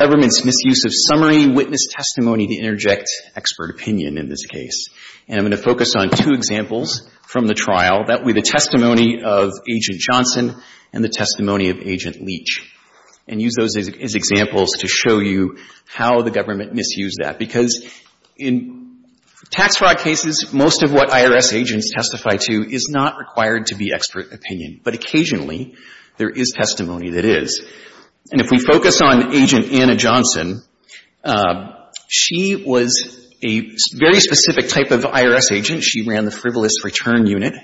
government's misuse of summary witness testimony to interject expert opinion in this case. And I'm going to focus on two examples from the trial. That would be the testimony of Agent Johnson and the testimony of Agent Leach. And use those as examples to show you how the government misused that. Because in tax fraud cases, most of what IRS agents testify to is not required to be expert opinion. But occasionally, there is testimony that is. And if we focus on Agent Anna Johnson, she was a very specific type of IRS agent. She ran the frivolous return unit.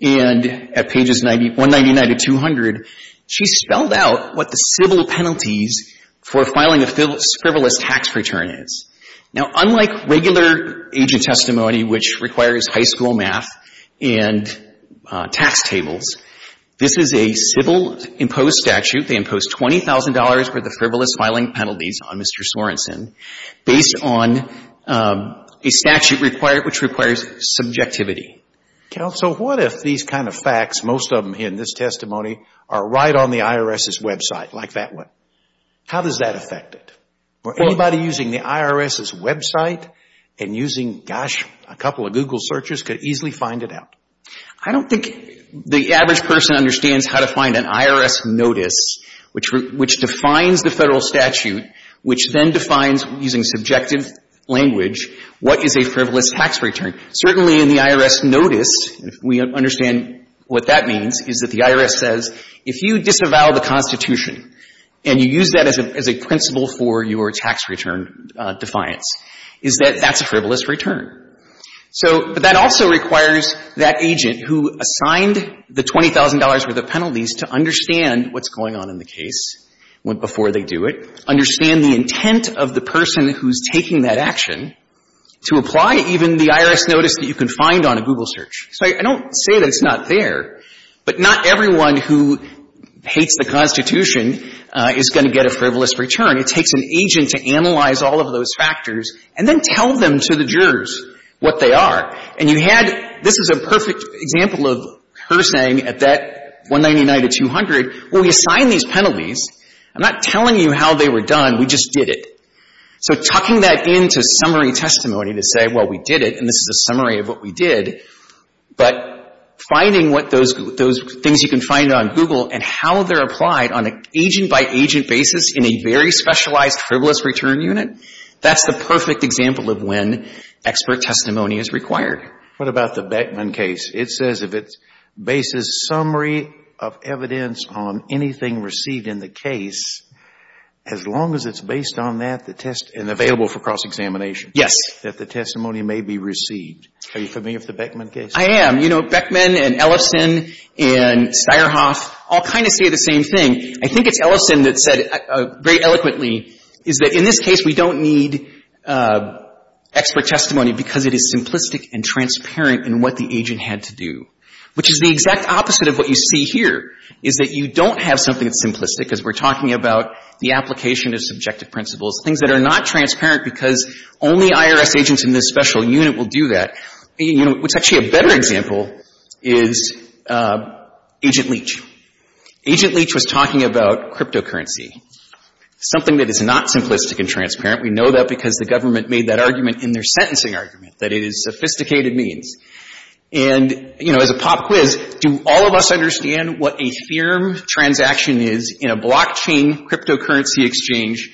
And at pages 199 to 200, she spelled out what the civil penalties for filing a frivolous tax return is. Now, unlike regular agent testimony, which requires high school math and tax tables, this is a civil imposed statute. They imposed $20,000 for the frivolous filing penalties on Mr. Sorensen based on a statute which requires subjectivity. Counsel, what if these kind of facts, most of them in this testimony, are right on the IRS's website, like that one? How does that affect it? For anybody using the IRS's website and using, gosh, a couple of Google searches could easily find it out. I don't think the average person understands how to find an IRS notice which defines the Federal statute, which then defines, using subjective language, what is a frivolous tax return. Certainly, in the IRS notice, if we understand what that means, is that the IRS says, if you disavow the Constitution and you use that as a principle for your tax return defiance, is that that's a frivolous return. So, but that also requires that agent who assigned the $20,000 worth of penalties to understand what's going on in the case before they do it, understand the intent of the person who's taking that action, to apply even the IRS notice that you can find on a Google search. So I don't say that it's not there, but not everyone who hates the Constitution is going to get a frivolous return. It takes an agent to analyze all of those factors and then tell them to the jurors what they are. And you had, this is a perfect example of her saying at that $199 to $200, well, we assigned these penalties. I'm not telling you how they were done. We just did it. So tucking that into summary testimony to say, well, we did it, and this is a summary of what we did, but finding what those, those things you can find on Google and how they're applied on an agent-by-agent basis in a very specialized frivolous return unit, that's the perfect example of when expert testimony is required. What about the Beckman case? It says if it bases summary of evidence on anything received in the case, as long as it's based on that, the test, and available for cross-examination. Yes. That the testimony may be received. Are you familiar with the Beckman case? I am. You know, Beckman and Ellison and Steierhoff all kind of say the same thing. I think it's Ellison that said very eloquently, is that in this case, we don't need expert testimony because it is simplistic and transparent in what the agent had to do, which is the exact opposite of what you see here, is that you don't have something that's simplistic, because we're talking about the application of subjective principles, things that are not transparent because only IRS agents in this special unit will do that. You know, what's actually a better example is Agent Leach. Agent Leach was talking about cryptocurrency, something that is not simplistic and transparent. We know that because the government made that argument in their sentencing argument, that it is sophisticated means. And, you know, as a pop quiz, do all of us understand what a firm transaction is in a blockchain cryptocurrency exchange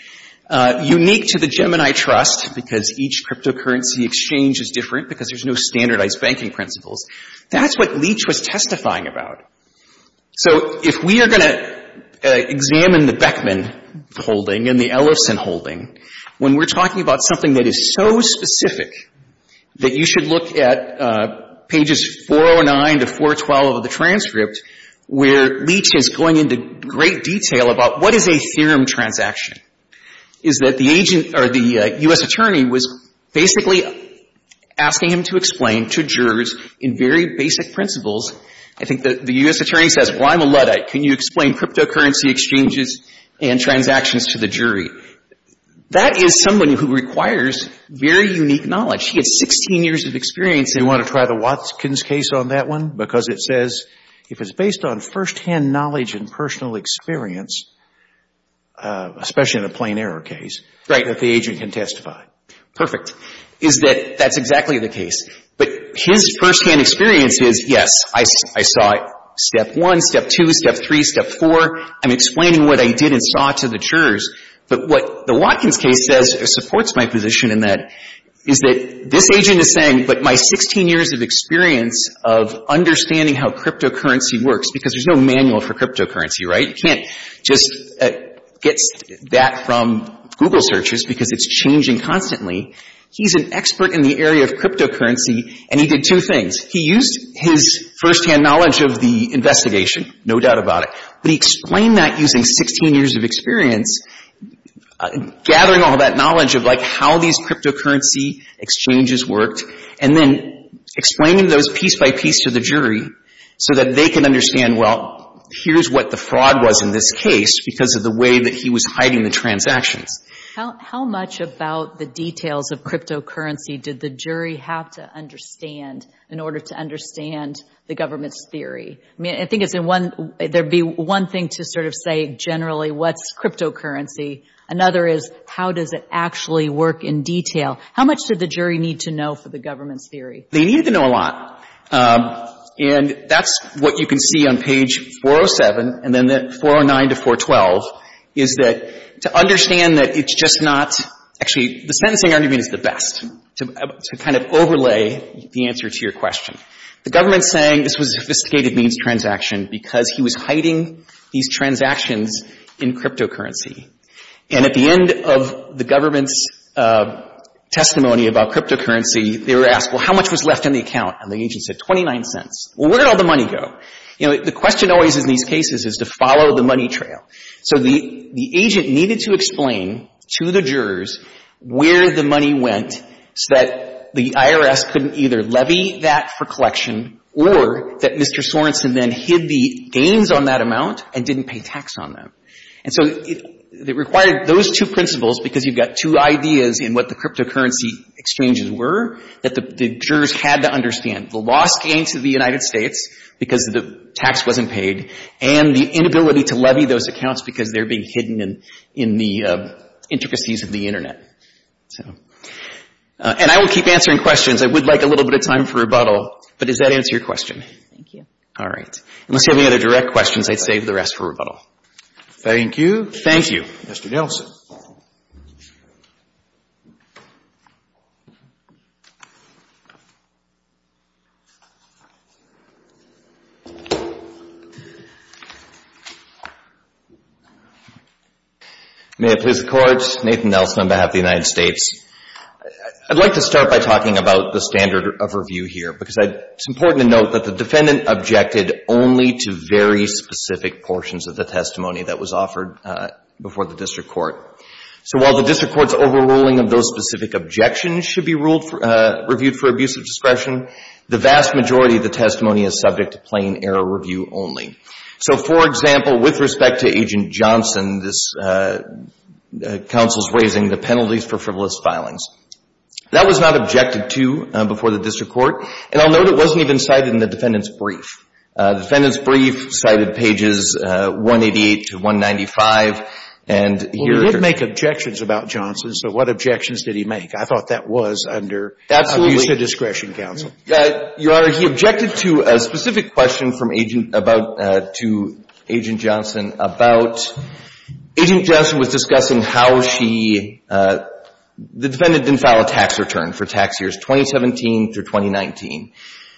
unique to the government I trust because each cryptocurrency exchange is different because there's no standardized banking principles? That's what Leach was testifying about. So if we are going to examine the Beckman holding and the Ellison holding, when we're talking about something that is so specific that you should look at pages 409 to 412 of the transcript, where Leach is going into great detail about what is a blockchain, the U.S. attorney was basically asking him to explain to jurors in very basic principles. I think the U.S. attorney says, well, I'm a luddite. Can you explain cryptocurrency exchanges and transactions to the jury? That is someone who requires very unique knowledge. He has 16 years of experience. You want to try the Watkins case on that one? Because it says if it's based on first-hand knowledge and personal experience, especially in a plain error case, that the agent can testify. Perfect. That's exactly the case. But his first-hand experience is, yes, I saw step one, step two, step three, step four. I'm explaining what I did and saw to the jurors. But what the Watkins case says supports my position in that is that this agent is saying, but my 16 years of experience of understanding how cryptocurrency works, because there's no manual for cryptocurrency, right? You can't just get that from Google searches because it's changing constantly. He's an expert in the area of cryptocurrency and he did two things. He used his first-hand knowledge of the investigation, no doubt about it, but he explained that using 16 years of experience, gathering all that knowledge of how these cryptocurrency exchanges worked, and then explaining those piece by piece to the jury so that they can understand, well, here's what the fraud was in this case because of the way that he was hiding the transactions. How much about the details of cryptocurrency did the jury have to understand in order to understand the government's theory? I mean, I think it's in one, there'd be one thing to sort of say generally, what's cryptocurrency? Another is, how does it actually work in detail? How much did the jury need to know for the government's theory? They needed to know a lot, and that's what you can see on page 407, and then 409 to 412, is that to understand that it's just not, actually, the sentencing argument is the best to kind of overlay the answer to your question. The government's saying this was a sophisticated means transaction because he was hiding these transactions in cryptocurrency, and at the end of the government's testimony about cryptocurrency, they were asked, well, how much was left in the account? And the agent said, 29 cents. Well, where did all the money go? You know, the question always in these cases is to follow the money trail. So the agent needed to explain to the jurors where the money went so that the IRS couldn't either levy that for collection or that Mr. Sorenson then hid the gains on that amount and didn't pay tax on them. And so it required those two principles because you've got two ideas in what the cryptocurrency exchanges were that the jurors had to understand. The loss gained to the United States because the tax wasn't paid and the inability to levy those accounts because they're being hidden in the intricacies of the Internet. And I will keep answering questions. I would like a little bit of time for rebuttal, but does that answer your question? Thank you. All right. Unless you have any other direct questions, I'd like to leave the rest for rebuttal. Thank you. Thank you. Mr. Nelson. May it please the Court. Nathan Nelson on behalf of the United States. I'd like to start by talking about the standard of review here, because it's important to note that the Defendant objected only to very specific cases. I'm not going to go into the specifics of the testimony that was offered before the District Court. So while the District Court's overruling of those specific objections should be reviewed for abusive discretion, the vast majority of the testimony is subject to plain error review only. So, for example, with respect to Agent Johnson, this counsel's raising the penalties for frivolous filings. That was not objected to before the District Court, and I'll note it wasn't even cited in the Defendant's brief. The Defendant's brief cited pages 188 to 195, and here are her – Well, he did make objections about Johnson, so what objections did he make? I thought that was under – Absolutely. Abusive discretion counsel. Your Honor, he objected to a specific question from Agent – about – to Agent Johnson about – Agent Johnson was discussing how she – the Defendant didn't file a tax return for tax years 2017 through 2019.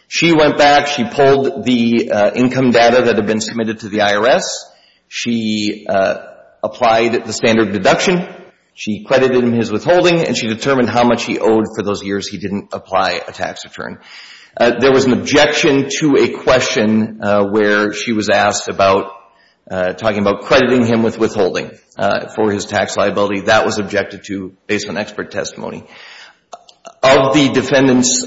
She went back, she pulled the income data that had been submitted to the IRS, she applied the standard deduction, she credited in his withholding, and she determined how much he owed for those years he didn't apply a tax return. There was an objection to a question where she was asked about – talking about crediting him with withholding for his tax liability. That was objected to based on expert testimony. Of the Defendant's –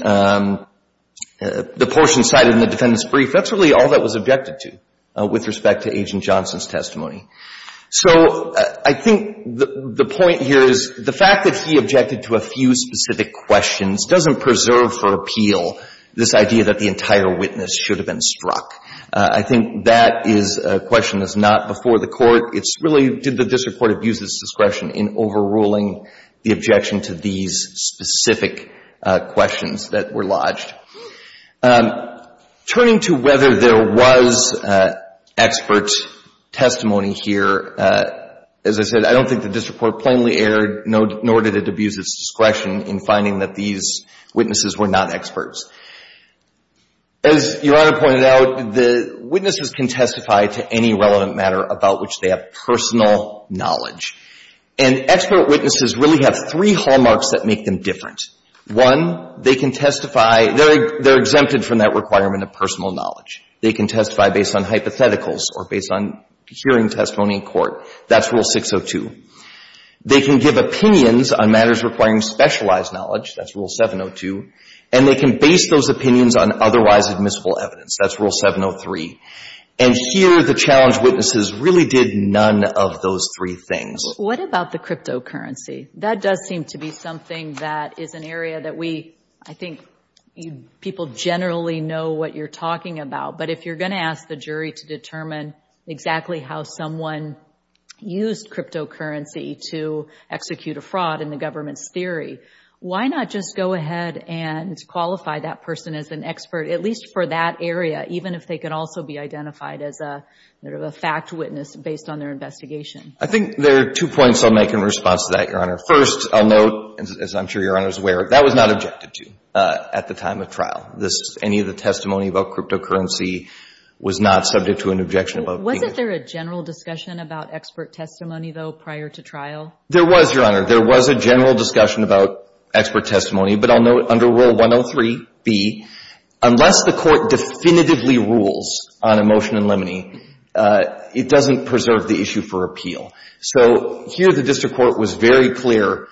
the portion cited in the Defendant's brief, all that was objected to with respect to Agent Johnson's testimony. So I think the point here is the fact that he objected to a few specific questions doesn't preserve for appeal this idea that the entire witness should have been struck. I think that is a question that's not before the Court. It's really, did the District Court abuse its discretion in overruling the objection to these specific questions that were lodged? Turning to whether there was expert testimony here, as I said, I don't think the District Court plainly erred, nor did it abuse its discretion in finding that these witnesses were not experts. As Your Honor pointed out, the witnesses can testify to any relevant matter about which they have personal knowledge. And expert witnesses really have three hallmarks that make them different. One, they can testify – they're exempted from that requirement of personal knowledge. They can testify based on hypotheticals or based on hearing testimony in court. That's Rule 602. They can give opinions on matters requiring specialized knowledge. That's Rule 702. And they can base those opinions on otherwise admissible evidence. That's Rule 703. And here, the challenge witnesses really did none of those three things. What about the cryptocurrency? That does seem to be something that is an area that we, I think people generally know what you're talking about. But if you're going to ask the jury to determine exactly how someone used cryptocurrency to execute a fraud in the government's theory, why not just go ahead and qualify that person as an expert, at least for that area, even if they could also be identified as a fact witness based on their investigation? I think there are two points I'll make in response to that, Your Honor. First, I'll note, as I'm sure Your Honor is aware, that was not objected to at the time of trial. Any of the testimony about cryptocurrency was not subject to an objection. Wasn't there a general discussion about expert testimony, though, prior to trial? There was, Your Honor. There was a general discussion about expert testimony. But I'll note under Rule 103b, unless the Court definitively rules on a motion in limine, it doesn't preserve the issue for appeal. So here, the district court was very clear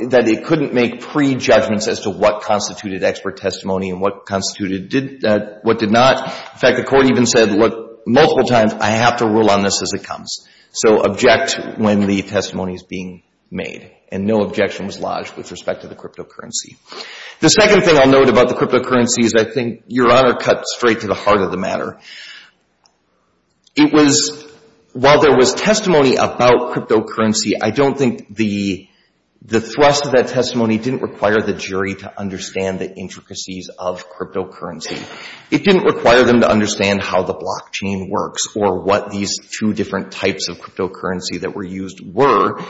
that it couldn't make prejudgments as to what constituted expert testimony and what constituted what did not. In fact, the Court even said, look, multiple times, I have to rule on this as it comes. So object when the testimony is being made. And no objection was lodged with respect to the cryptocurrency. The second thing I'll note about the cryptocurrency is I think Your Honor cut straight to the heart of the matter. It was, while there was testimony about cryptocurrency, I don't think the thrust of that testimony didn't require the jury to understand the intricacies of cryptocurrency. It didn't require them to understand how the blockchain works or what these two different types of cryptocurrency that were used were.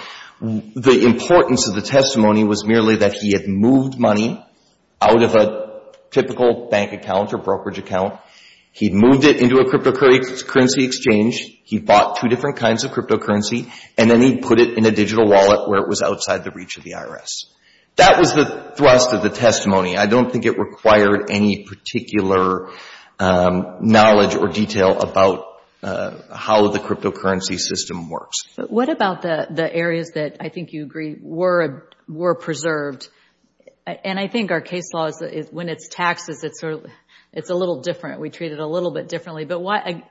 The importance of the testimony was merely that he had moved money out of a typical bank account or brokerage account. He moved it into a cryptocurrency exchange. He bought two different kinds of cryptocurrency. And then he put it in a digital wallet where it was outside the reach of the IRS. That was the thrust of the testimony. I don't think it required any particular knowledge or detail about how the cryptocurrency system works. But what about the areas that I think you agree were preserved? And I think our case law, when it's taxes, it's a little different. We treat it a little bit differently. But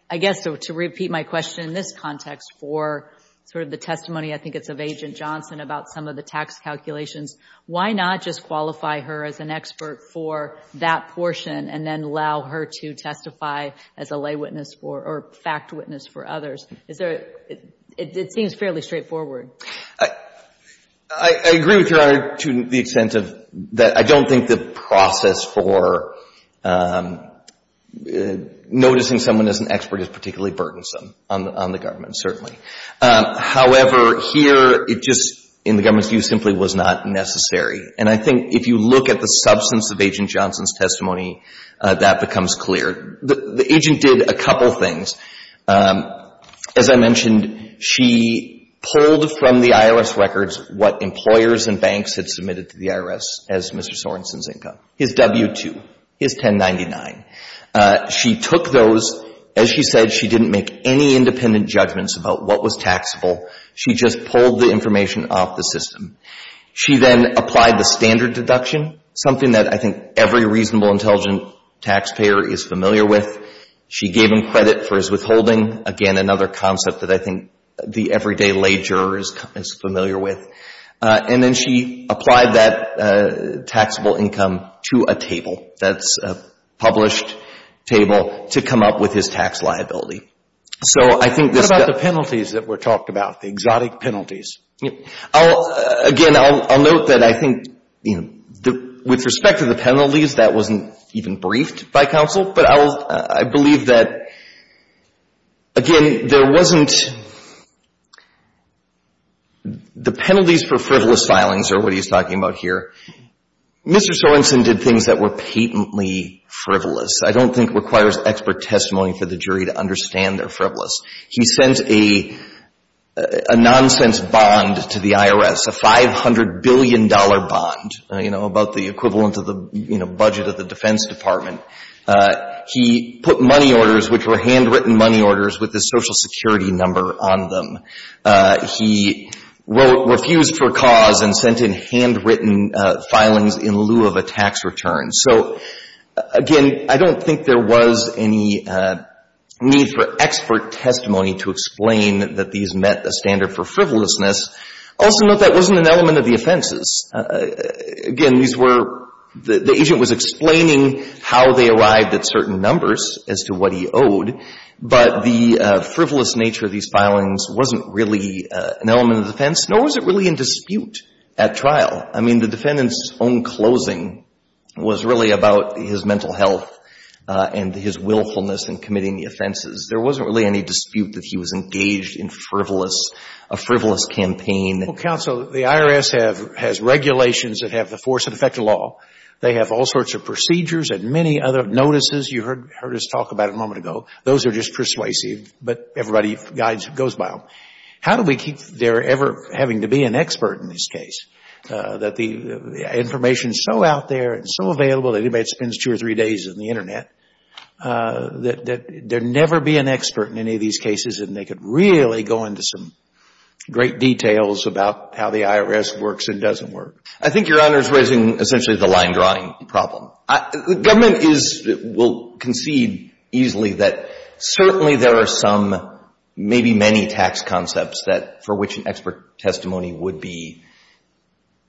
I guess to repeat my question in this context for sort of the testimony, I think it's of the tax calculations. Why not just qualify her as an expert for that portion and then allow her to testify as a lay witness or fact witness for others? It seems fairly straightforward. I agree with Your Honor to the extent of that I don't think the process for noticing someone as an expert is particularly burdensome on the government, certainly. However, here it just, in the government's view, simply was not necessary. And I think if you look at the substance of Agent Johnson's testimony, that becomes clear. The agent did a couple things. As I mentioned, she pulled from the IRS records what employers and banks had submitted to the IRS as Mr. Sorenson's income. His W-2, his 1099. She took those. As she said, she didn't make any independent judgments about what was taxable. She just pulled the information off the system. She then applied the standard deduction, something that I think every reasonable, intelligent taxpayer is familiar with. She gave him credit for his withholding. Again, another concept that I think the everyday lay juror is familiar with. And then she applied that taxable income to a table. That's a published table to come up with his tax liability. So what about the penalties that were talked about, the exotic penalties? Again, I'll note that I think, you know, with respect to the penalties, that wasn't even briefed by counsel. But I believe that, again, there wasn't the penalties for frivolous filings are what he's talking about here. Mr. Sorenson did things that were patently frivolous. I don't think it requires expert testimony for the jury to understand they're frivolous. He sent a nonsense bond to the IRS, a $500 billion bond, you know, about the equivalent of the budget of the Defense Department. He put money orders, which were handwritten money orders with the Social Security number on them. He refused for cause and sent in handwritten filings in lieu of a tax return. So, again, I don't think there was any need for expert testimony to explain that these met a standard for frivolousness. Also note that wasn't an element of the offenses. Again, these were the agent was explaining how they arrived at certain numbers as to what he owed. But the frivolous nature of these filings wasn't really an element of the defense, nor was it really in dispute at trial. I mean, the defendant's own closing was really about his mental health and his willfulness in committing the offenses. There wasn't really any dispute that he was engaged in frivolous, a frivolous campaign. Well, counsel, the IRS has regulations that have the force and effect of law. They have all sorts of procedures and many other notices you heard us talk about a moment ago. Those are just persuasive, but everybody goes by them. How do we keep their ever having to be an expert in this case, that the information is so out there and so available that anybody spends two or three days on the Internet, that there never be an expert in any of these cases and they could really go into some great details about how the IRS works and doesn't work? I think Your Honor is raising essentially the line drawing problem. The government is, will concede easily that certainly there are some, maybe many tax concepts that, for which an expert testimony would be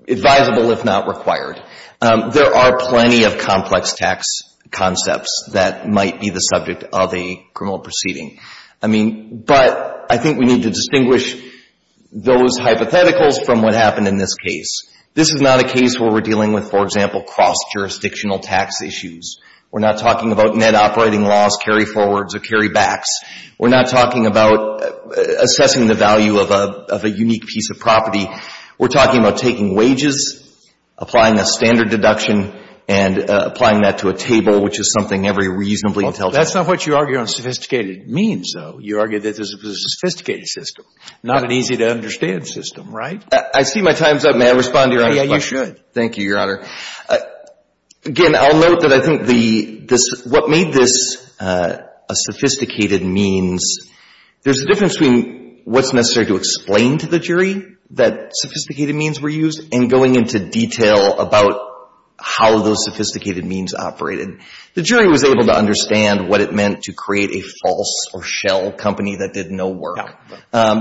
advisable, if not required. There are plenty of complex tax concepts that might be the subject of a criminal proceeding. I mean, but I think we need to distinguish those hypotheticals from what happened in this case. This is not a case where we're dealing with, for example, cross-jurisdictional tax issues. We're not talking about net operating laws, carry-forwards or carry-backs. We're not talking about assessing the value of a unique piece of property. We're talking about taking wages, applying a standard deduction, and applying that to a table, which is something every reasonably intelligent person can do. I see my time's up. May I respond to Your Honor's question? Yeah, you should. Thank you, Your Honor. Again, I'll note that I think the, this, what made this a sophisticated means, there's a difference between what's necessary to explain to the jury that sophisticated means were used and going into detail about how those sophisticated means operated. The jury was able to understand what it meant to create a false or shell company that did no work. No.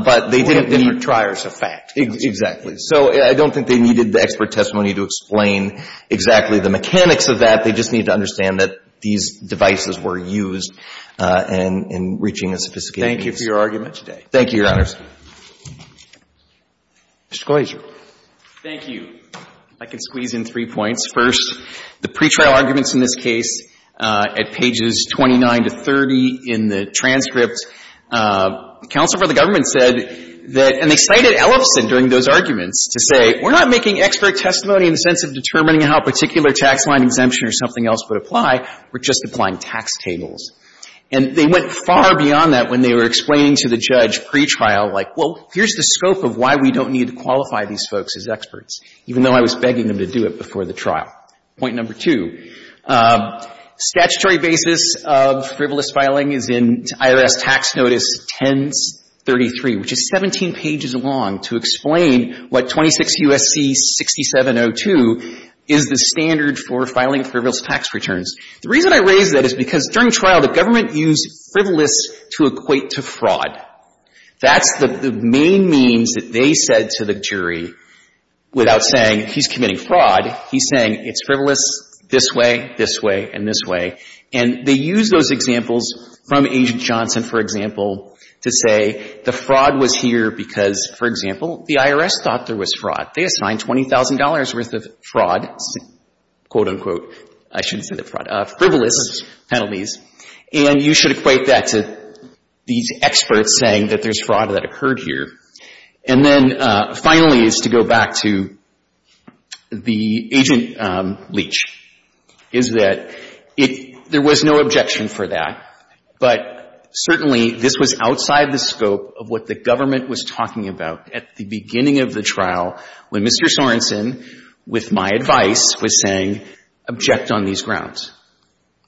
But they didn't need Different triers of fact. Exactly. So I don't think they needed the expert testimony to explain exactly the mechanics of that. They just needed to understand that these devices were used in reaching a sophisticated means. Thank you for your argument today. Thank you, Your Honors. Mr. Kloeser. Thank you. I can squeeze in three points. First, the pretrial arguments in this case at pages 29 to 30 in the transcript, counsel for the government said that, and they cited Ellison during those arguments to say, we're not making expert testimony in the sense of determining how a particular tax line exemption or something else would apply. We're just applying tax tables. And they went far beyond that when they were explaining to the judge pretrial, like, well, here's the scope of why we don't need to qualify these folks as experts, even though I was begging them to do it before the trial. Point number two, statutory basis of frivolous filing is in IRS Tax Notice 1033, which is 17 pages long, to explain what 26 U.S.C. 6702 is the standard for filing frivolous tax returns. The reason I raise that is because during trial, the government used frivolous to equate to fraud. That's the main means that they said to the jury without saying he's committing fraud. He's saying it's frivolous this way, this way, and this way. And they use those examples from Agent Johnson, for example, to say the fraud was here because, for example, the IRS thought there was fraud. They assigned $20,000 worth of fraud, quote, unquote, I shouldn't say that, fraud, frivolous penalties. And you should equate that to these experts saying that there's fraud that occurred here. And then, finally, is to go back to the Agent Leach, is that there was no objection for that, but certainly this was outside the scope of what the government was talking about at the beginning of the trial when Mr. Sorensen, with my advice, was saying object on these grounds.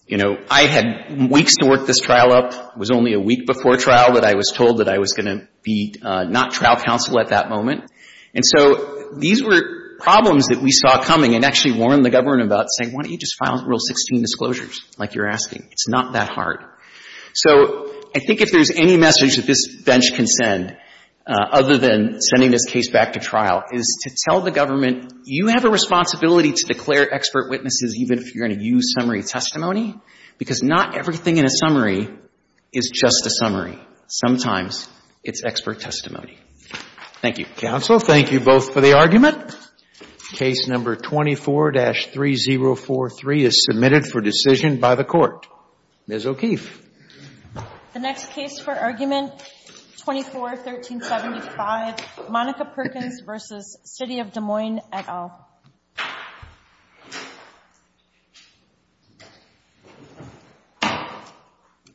You know, I had weeks to work this trial up. It was only a couple of weeks, and I had to be not trial counsel at that moment. And so these were problems that we saw coming and actually warned the government about saying why don't you just file Rule 16 disclosures, like you're asking. It's not that hard. So I think if there's any message that this bench can send, other than sending this case back to trial, is to tell the government you have a responsibility to declare expert witnesses even if you're going to use summary testimony, because not everything in a summary is just a summary. Sometimes it's expert testimony. Thank you. Counsel, thank you both for the argument. Case number 24-3043 is submitted for decision by the Court. Ms. O'Keefe. The next case for argument 24-1375, Monica Perkins v. City of Des Moines et al. Thank you.